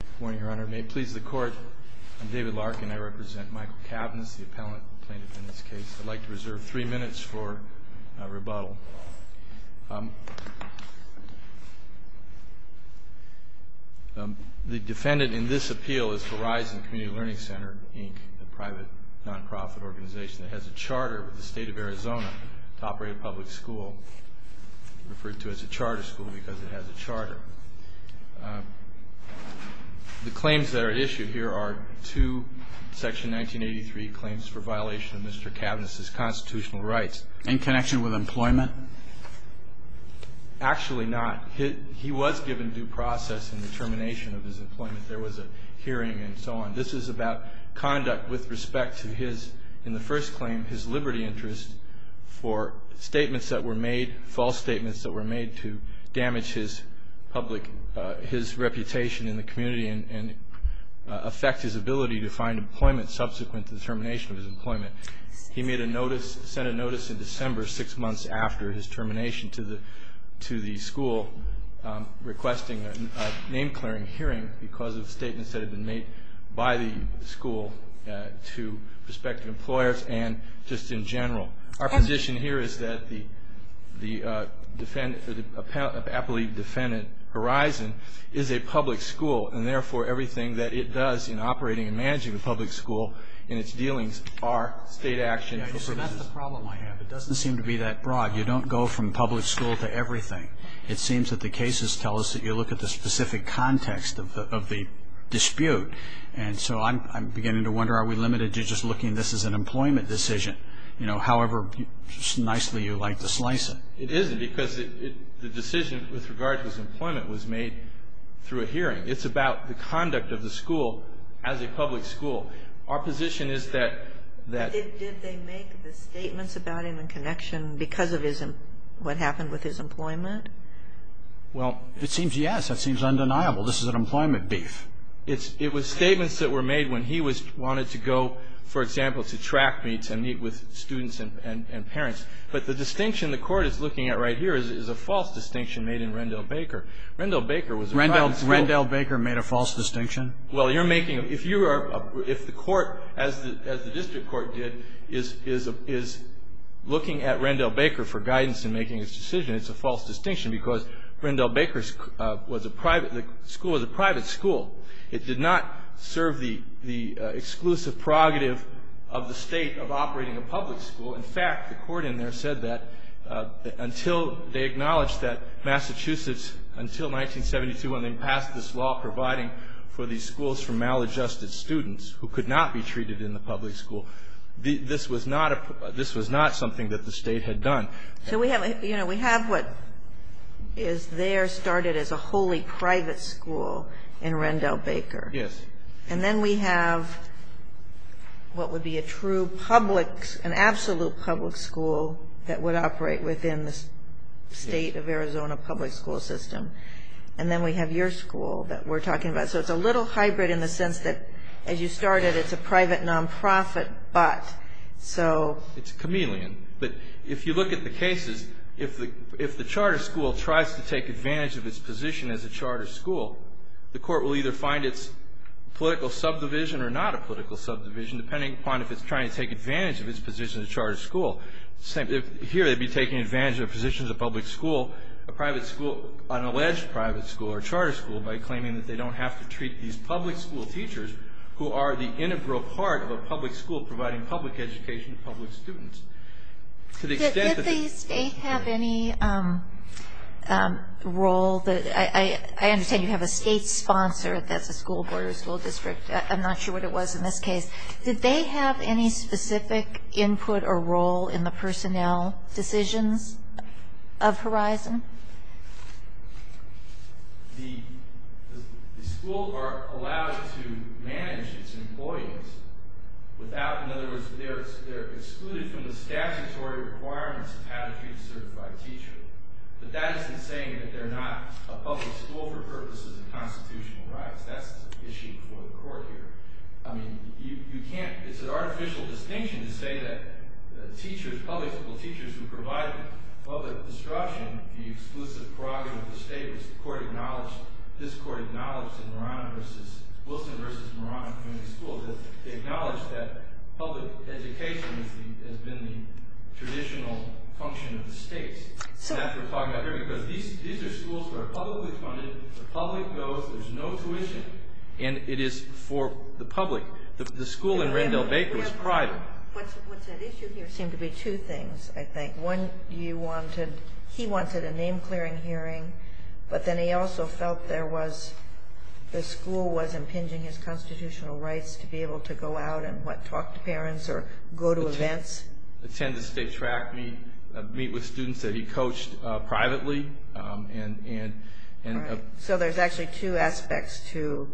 Good morning, Your Honor. May it please the Court, I'm David Larkin. I represent Michael Kavinis, the appellant plaintiff in this case. I'd like to reserve three minutes for rebuttal. The defendant in this appeal is Horizon Community Learning Center, Inc., a private, non-profit organization that has a charter with the state of Arizona to operate a public school. The claims that are issued here are two Section 1983 claims for violation of Mr. Kavinis' constitutional rights. In connection with employment? Actually not. He was given due process in the termination of his employment. There was a hearing and so on. This is about conduct with respect to his, in the first claim, his liberty interest for statements that were made, false statements that were made to damage his reputation in the community and affect his ability to find employment subsequent to the termination of his employment. He made a notice, sent a notice in December six months after his termination to the school requesting a name-clearing hearing because of statements that had been made by the school to prospective employers and just in general. Our position here is that the appellee defendant Horizon is a public school and therefore everything that it does in operating and managing a public school and its dealings are state actions. So that's the problem I have. It doesn't seem to be that broad. You don't go from public school to everything. It seems that the cases tell us that you look at the specific context of the dispute and so I'm beginning to wonder are we limited to just looking at this as an employment decision? You know, however nicely you like to slice it. It isn't because the decision with regard to his employment was made through a hearing. It's about the conduct of the school as a public school. Our position is that... Did they make the statements about him in connection because of what happened with his employment? Well, it seems yes. That seems undeniable. This is an employment beef. It was statements that were made when he wanted to go for example to track meets and meet with students and parents. But the distinction the Court is looking at right here is a false distinction made in Rendell Baker. Rendell Baker was... Rendell Baker made a false distinction? Well, you're making... If you are... If the Court, as the district court did, is looking at Rendell Baker for guidance in making his decision, it's a false distinction because Rendell Baker was a private... The school was a private school. It did not serve the exclusive prerogative of the state of operating a public school. In fact, the Court in there said that until they acknowledged that Massachusetts, until 1972 when they passed this law providing for these schools for maladjusted students who could not be treated in the public school, this was not something that the state had done. So we have, you know, we have what is there started as a wholly private school in Rendell Baker. Yes. And then we have what would be a true public, an absolute public school that would operate within the state of Arizona public school system. And then we have your school that we're talking about. So it's a little hybrid in the sense that as you started it's a private non-profit but so... It's a chameleon. But if you look at the cases if the charter school tries to take advantage of its position as a public school, it will either find its political subdivision or not a political subdivision depending upon if it's trying to take advantage of its position as a charter school. Here they'd be taking advantage of their position as a public school, a private school an alleged private school or charter school by claiming that they don't have to treat these public school teachers who are the integral part of a public school providing public education to public students. To the extent that... Did the state have any role that... I understand you have a state sponsor that's a school board or school district. I'm not sure what it was in this case. Did they have any specific input or role in the personnel decisions of Horizon? The school are allowed to manage its employees without... In other words, they're excluded from the statutory requirements of how to treat a certified teacher. But that isn't saying that they're not a public school for purposes of constitutional rights. That's an issue for the court here. I mean, you can't... It's an artificial distinction to say that teachers, public school teachers who provide public instruction, the exclusive prerogative of the state was the court acknowledged... This court acknowledged in Moran versus... Wilson versus Moran Community School. They acknowledged that public education has been the traditional function of the states. These are schools that are publicly funded. The public goes. There's no tuition. And it is for the public. The school in Rendell Baker was private. There seem to be two things, I think. One, you wanted... He wanted a name clearing hearing, but then he also felt there was... The school was impinging his constitutional rights to be able to go out and talk to parents or go to events. Attend the state track meet with students that he coached privately. So there's actually two aspects to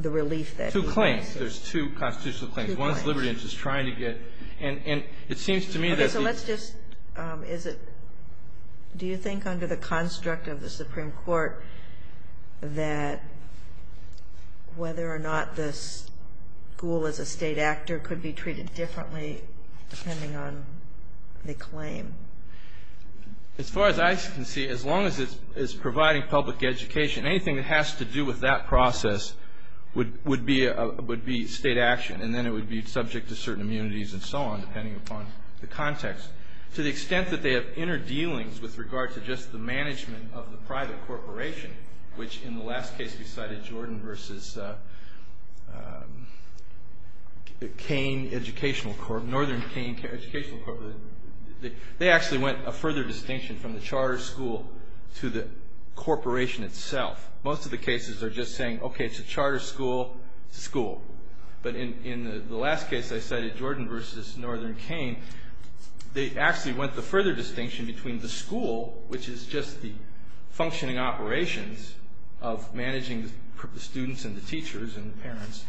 the relief that... Two claims. There's two constitutional claims. One is liberty and just trying to get... And it seems to me that... Do you think under the construct of the Supreme Court that whether or not the school as a state actor could be treated differently depending on the claim? As far as I can see, as long as it's providing public education, anything that has to do with that process would be state action. And then it would be subject to certain immunities and so on, depending upon the context. To the extent that they have inner dealings with regard to just the management of the private corporation, which in the last case we cited, Jordan versus Cain Educational Corp. Northern Cain Educational Corp. They actually went a further distinction from the charter school to the corporation itself. Most of the cases are just saying, okay, it's a charter school, it's a school. But in the last case I cited, Jordan versus Northern Cain, they actually went the further distinction between the school, which is just the functioning operations of managing the students and the teachers and the parents,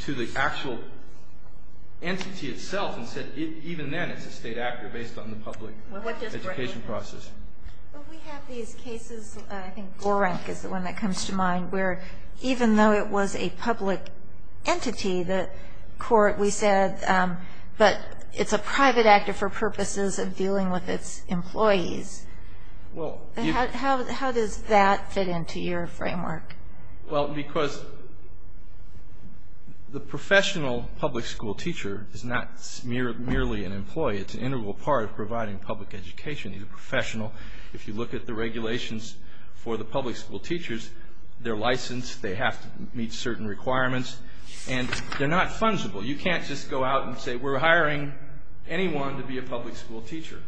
to the actual entity itself and said even then it's a state actor based on the public education process. We have these cases, I think Gorenk is the one that comes to mind, where even though it was a public entity, the court, we said, but it's a private actor for purposes of dealing with its employees. How does that fit into your framework? The professional public school teacher is not merely an employee. It's an integral part of providing public education. If you look at the regulations for the public school teachers, they're licensed, they have to meet certain requirements, and they're not fungible. You can't just go out and say we're hiring anyone to be a public school teacher.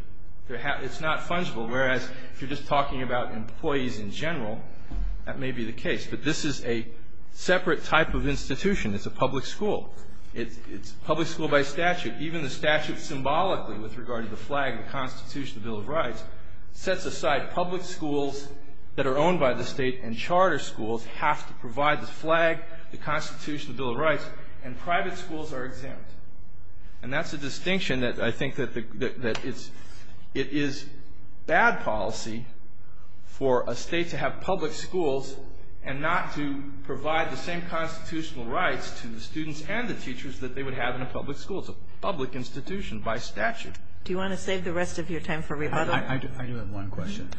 It's not fungible, whereas if you're just a public school, that may be the case. But this is a separate type of institution. It's a public school. It's public school by statute. Even the statute symbolically with regard to the flag, the Constitution, the Bill of Rights sets aside public schools that are owned by the state and charter schools have to provide the flag, the Constitution, the Bill of Rights, and private schools are exempt. And that's a distinction that I think that it is bad policy for a state to have public schools and not to provide the same constitutional rights to the students and the teachers that they would have in a public school. It's a public institution by statute. Do you want to save the rest of your time for rebuttal? I do have one question.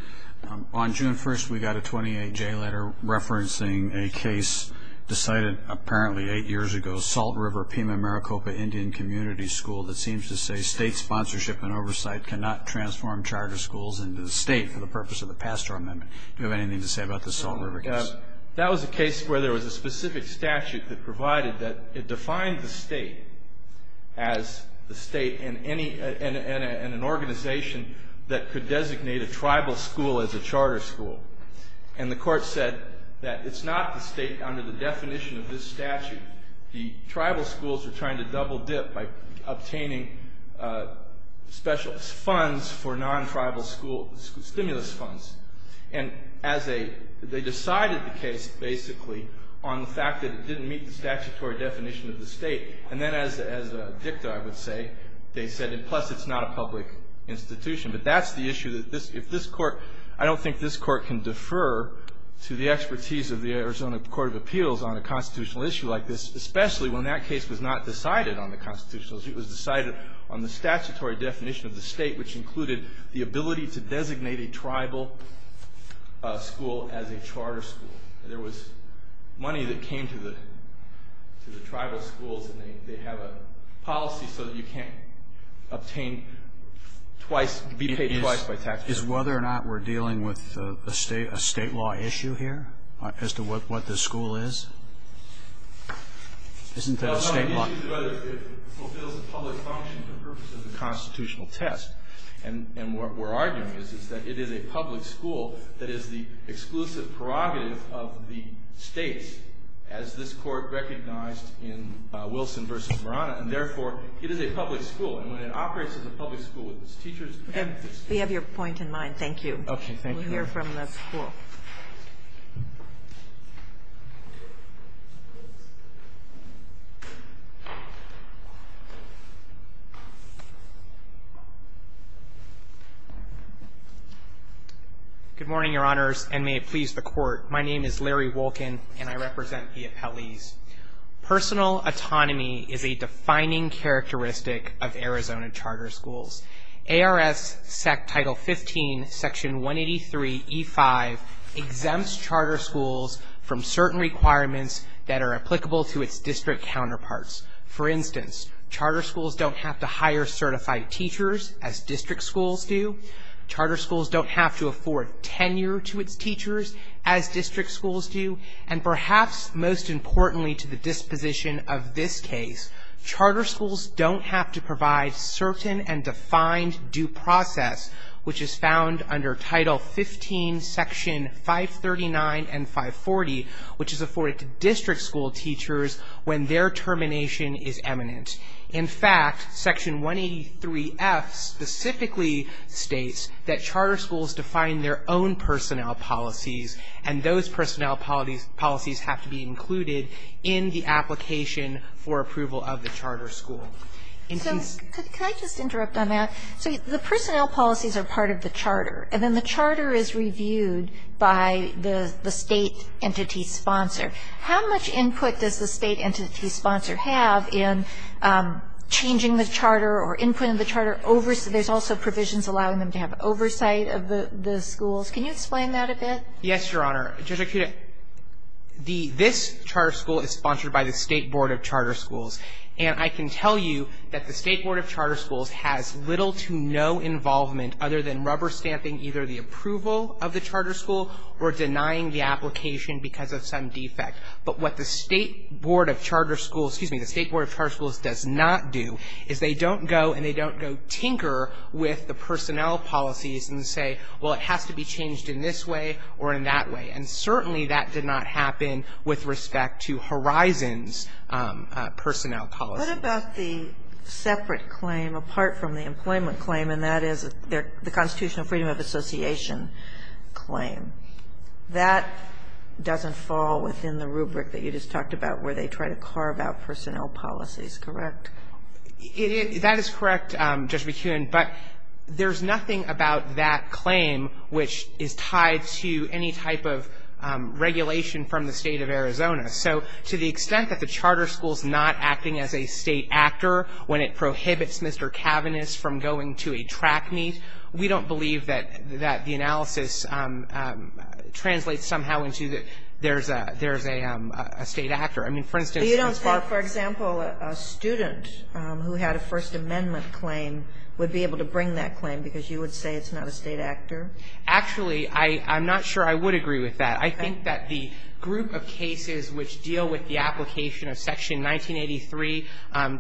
On June 1st, we got a 28-J letter referencing a case decided apparently eight years ago, Salt River-Pima Maricopa Indian Community School that seems to say state sponsorship and oversight cannot transform charter schools into the state for the purpose of the pastor amendment. Do you have anything to say about this Salt River case? That was a case where there was a specific statute that provided that it defined the state as the state and an organization that could designate a tribal school as a charter school. And the court said that it's not the state under the definition of this statute. The tribal schools are trying to double dip by obtaining special funds for non-tribal school stimulus funds. And they decided the case basically on the fact that it didn't meet the statutory definition of the state. And then as a dicta, I would say, they said plus it's not a public institution. But that's the issue. I don't think this court can defer to the expertise of the Arizona Court of Appeals on a constitutional issue like this, especially when that case was not decided on the statutory definition of the state, which included the ability to designate a tribal school as a charter school. There was money that came to the tribal schools and they have a policy so that you can't obtain twice, be paid twice by taxpayers. Is whether or not we're dealing with a state law issue here as to what this school is? Isn't that a state law issue? It fulfills a public function for the purpose of the constitutional test. And what we're arguing is that it is a public school that is the exclusive prerogative of the states as this court recognized in Wilson v. Verona. And therefore it is a public school. And when it operates as a public school with its teachers... We have your point in mind. Thank you. We'll hear from the school. Good morning, Your Honors. And may it please the Court, my name is Larry Wolkin and I represent the appellees. Personal autonomy is a defining characteristic of Arizona charter schools. ARS Title 15, Section 183E5 exempts charter schools from certain requirements that are applicable to its district counterparts. For instance, charter schools don't have to hire certified teachers as district schools do. Charter schools don't have to afford tenure to its teachers as district schools do. And perhaps most importantly to the disposition of this case, charter schools don't have to provide certain and defined due process which is found under Title 15, Section 539 and 540, which is afforded to district school teachers when their termination is eminent. In fact, Section 183F specifically states that charter schools define their own personnel policies and those personnel policies have to be included in the application for approval of the charter school. So, can I just interrupt on that? So the personnel policies are part of the charter and then the charter is reviewed by the state entity sponsor. How much input does the state entity sponsor have in changing the charter or input in the charter? There's also provisions allowing them to have oversight of the schools. Can you explain that a bit? Yes, Your Honor. Judge Arcuda, this charter school is sponsored by the State Board of Charter Schools. And I can tell you that the State Board of Charter Schools has little to no involvement other than rubber stamping either the approval of the charter school or denying the application because of some defect. But what the State Board of Charter Schools, excuse me, the State Board of Charter Schools does not do is they don't go and they don't go tinker with the personnel policies and say, well, it has to be changed in this way or in that way. And certainly that did not happen with respect to Horizon's personnel policy. What about the separate claim apart from the employment claim, and that is the Constitutional Freedom of Association claim? That doesn't fall within the rubric that you just talked about where they try to carve out personnel policies, correct? That is correct, Judge McKeown. But there's nothing about that claim which is tied to any type of regulation from the State of Arizona. So to the extent that the charter school is not acting as a State actor when it prohibits Mr. Cavaniss from going to a track meet, we don't believe that the analysis translates somehow into that there's a State actor. I mean, for instance You don't think, for example, a student who had a First Amendment claim would be able to bring that claim because you would say it's not a State actor? Actually, I'm not sure I would agree with that. I think that the group of cases which deal with the application of Section 1983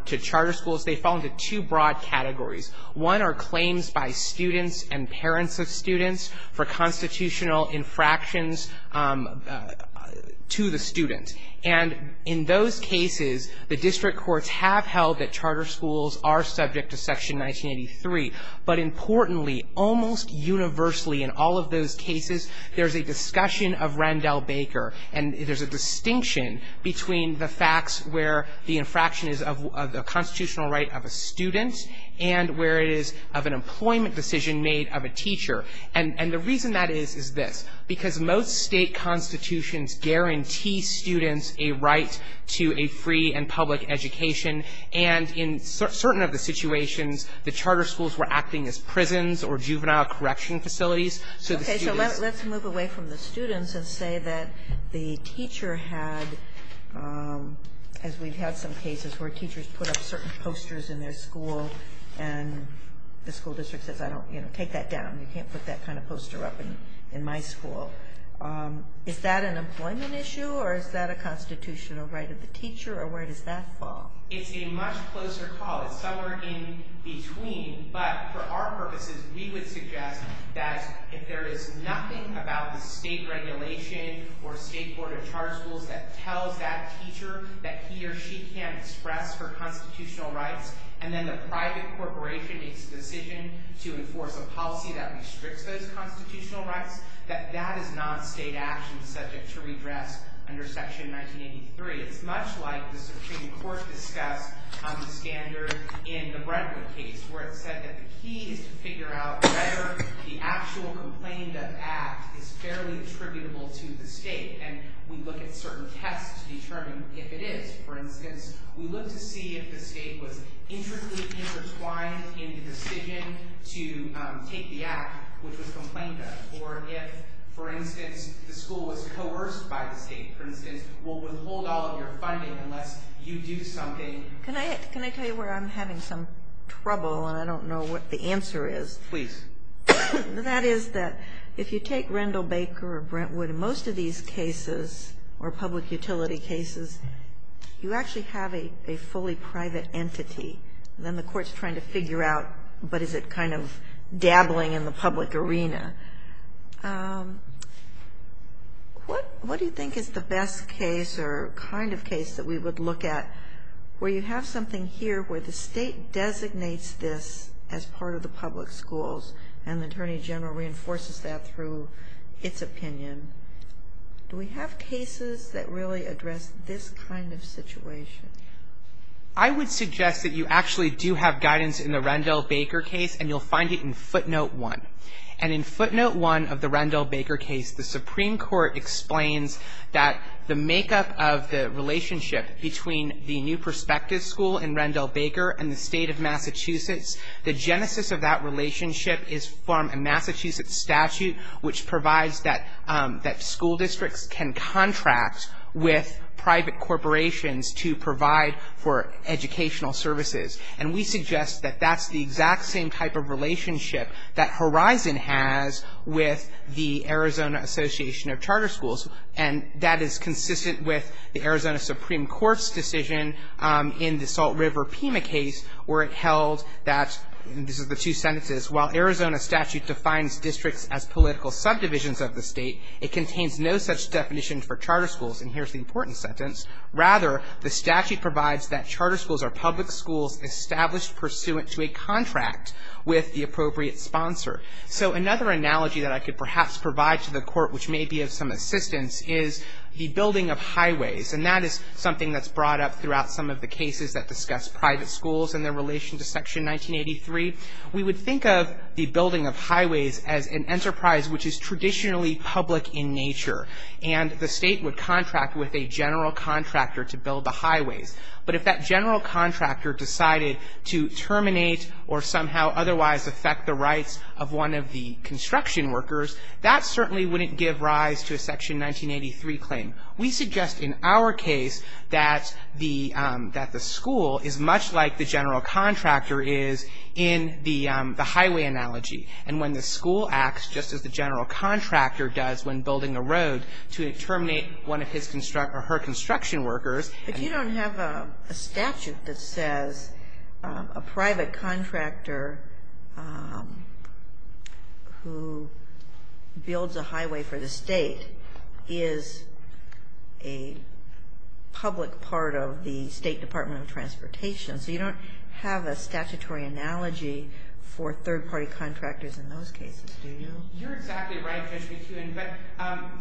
to charter schools, they fall into two broad categories. One are claims by students and parents of students for constitutional infractions to the student. And in those cases, the district courts have held that charter schools are subject to Section 1983. But importantly, almost universally in all of those cases, there's a discussion of Randall Baker, and there's a distinction between the facts where the infraction is of the constitutional right of a student and where it is of an employment decision made of a teacher. And the reason that is, is this. Because most State constitutions guarantee students a right to a free and public education. And in certain of the situations, the charter schools were acting as prisons or juvenile correction facilities. Okay, so let's move away from the students and say that the teacher had, as we've had some cases where teachers put up certain posters in their school and the school district says, you know, take that down. You can't put that kind of poster up in my school. Is that an employment issue or is that a constitutional right of the teacher or where does that fall? It's a much closer call. It's somewhere in between. But for our purposes, we would suggest that if there is nothing about the State regulation or State Board of Charter Schools that tells that teacher that he or she can't express her constitutional rights and then the private corporation makes the decision to enforce a policy that restricts those constitutional rights, that that is not State action subject to redress under Section 1983. It's much like the Supreme Court discussed the standard in the Brentwood case where it said that the key is to figure out whether the actual complained of act is fairly attributable to the State. And we look at certain tests to determine if it is. For instance, we look to see if the State was intricately intertwined in the decision to take the act which was complained of. Or if, for instance, the school was coerced by the State, for instance, will withhold all of your funding unless you do something Can I tell you where I'm having some trouble and I don't know what the answer is? Please. That is that if you take Rendell Baker or Brentwood, most of these cases or public utility cases, you actually have a fully private entity. Then the court's trying to figure out, but is it kind of dabbling in the public arena? What do you think is the best case or kind of case that we would look at where you have something here where the State designates this as part of the public schools and the Attorney General reinforces that through its opinion? Do we have cases that really address this kind of situation? I would suggest that you actually do have guidance in the Rendell Baker case and you'll notice that in footnote one of the Rendell Baker case, the Supreme Court explains that the makeup of the relationship between the new prospective school in Rendell Baker and the State of Massachusetts, the genesis of that relationship is from a Massachusetts statute which provides that school districts can contract with private corporations to provide for educational services. And we suggest that that's the exact same type of process with the Arizona Association of Charter Schools and that is consistent with the Arizona Supreme Court's decision in the Salt River Pima case where it held that, and this is the two sentences, while Arizona statute defines districts as political subdivisions of the State, it contains no such definition for charter schools, and here's the important sentence, rather the statute provides that charter schools are public schools established pursuant to a contract with the appropriate sponsor. So another analogy that I could perhaps provide to the Court which may be of some assistance is the building of highways and that is something that's brought up throughout some of the cases that discuss private schools and their relation to section 1983. We would think of the building of highways as an enterprise which is traditionally public in nature and the state would contract with a general contractor to build the highways. But if that general contractor decided to terminate or somehow otherwise affect the rights of one of the construction workers, that certainly wouldn't give rise to a section 1983 claim. We suggest in our case that the school is much like the general contractor is in the highway analogy and when the school acts just as the general contractor does when building a road to terminate one of his or her construction workers. But you don't have a statute that says a private contractor who builds a highway for the State is a public part of the State Department of Transportation. So you don't have a statutory analogy for third-party contractors in those cases, do you? You're exactly right, Judge McEwen. But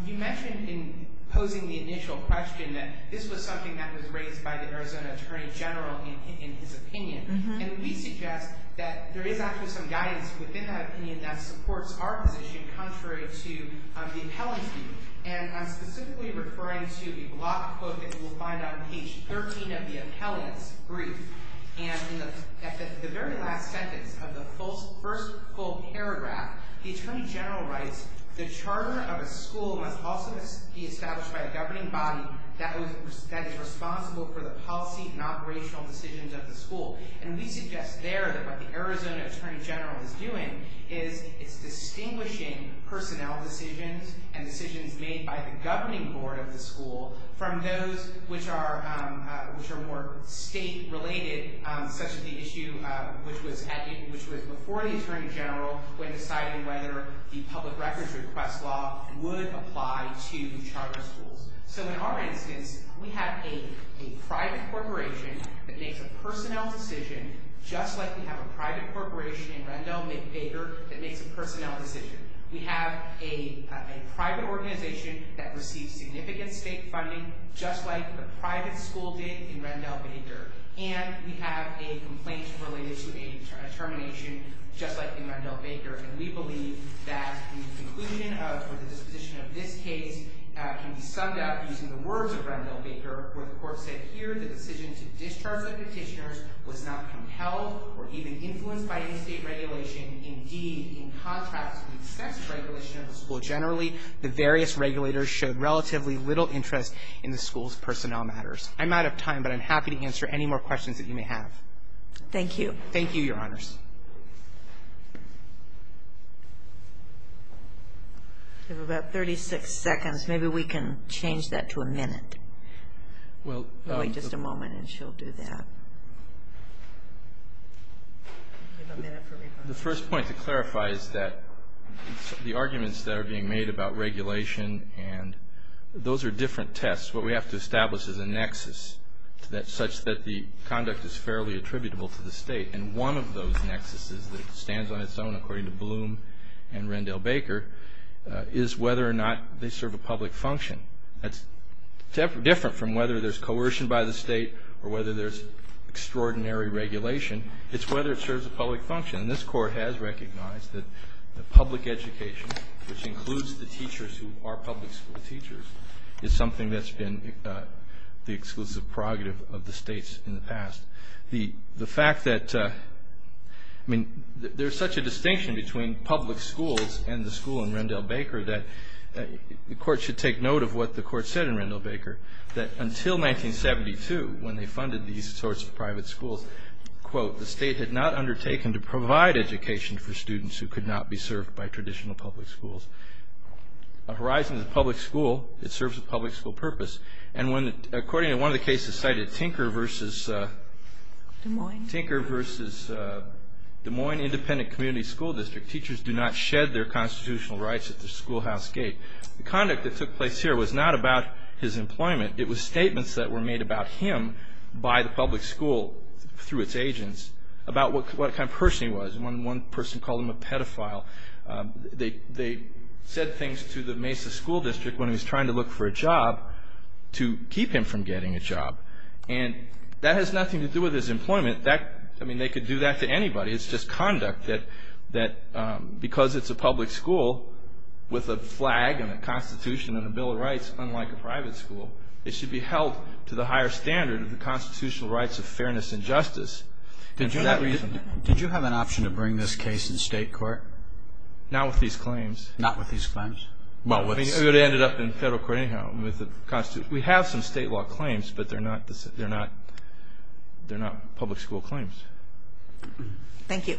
you mentioned in posing the initial question that this was something that was raised by the Arizona Attorney General in his opinion. And we suggest that there is actually some guidance within that opinion that supports our position contrary to the appellant's view. And I'm specifically referring to a block quote that you'll find on page 13 of the appellant's brief. And in the very last sentence of the first full paragraph, the Attorney General writes, the charter of a school must also be established by a governing body that is responsible for the policy and operational decisions of the school. And we suggest there that what the Arizona Attorney General is doing is it's distinguishing personnel decisions and decisions made by the governing board of the school from those which are more state-related, such as the issue which was before the Attorney General when deciding whether the public records request law would apply to charter schools. So in our instance, we have a private corporation that makes a personnel decision, just like we have a private corporation in Rendell, MacVicar, that makes a personnel decision. We have a private organization that receives significant state funding, just like the private school did in Rendell, MacVicar. And we have a complaint related to a termination, just like in Rendell, MacVicar. And we believe that the conclusion for the disposition of this case can be summed up using the words of Rendell, MacVicar, where the court said here the decision to discharge the petitioners was not compelled or even influenced by any state regulation. Indeed, in contrast to the excessive regulation of the school generally, the various regulators showed relatively little interest in the school's personnel matters. I'm out of time, but I'm happy to answer any more questions that you may have. Thank you, Your Honors. We have about 36 seconds. Maybe we can change that to a minute. Wait just a moment and she'll do that. The first point to clarify is that the arguments that are being made about regulation and those are different tests. What we have to establish is a nexus such that the conduct is fairly attributable to the state. And one of those nexuses that stands on its own, according to Bloom and Rendell Baker, is whether or not they serve a public function. That's different from whether there's coercion by the state or whether there's extraordinary regulation. It's whether it serves a public function. And this Court has recognized that public education, which includes the teachers who are public school teachers, is something that's been the exclusive prerogative of the states in the past. The fact that, I mean, there's such a distinction between public schools and the school in Rendell Baker that the Court should take note of what the Court said in Rendell Baker, that until 1972, when they funded these sorts of private schools, quote, the state had not undertaken to provide education for students who could not be served by traditional public schools. A horizon is a public school. It serves a public school purpose. And when, according to one of the cases cited, Tinker versus Des Moines Independent Community School District, teachers do not shed their constitutional rights at the schoolhouse gate. The conduct that took place here was not about his employment. It was statements that were made about him by the public school through its agents about what kind of person he was. One person called him a pedophile. They said things to the Mesa School District when he was trying to look for a job to do. That has nothing to do with his employment. I mean, they could do that to anybody. It's just conduct that, because it's a public school with a flag and a Constitution and a Bill of Rights, unlike a private school, it should be held to the higher standard of the constitutional rights of fairness and justice. Did you have an option to bring this case in state court? Not with these claims. We have some state law claims, but they're not public school claims. Thank you.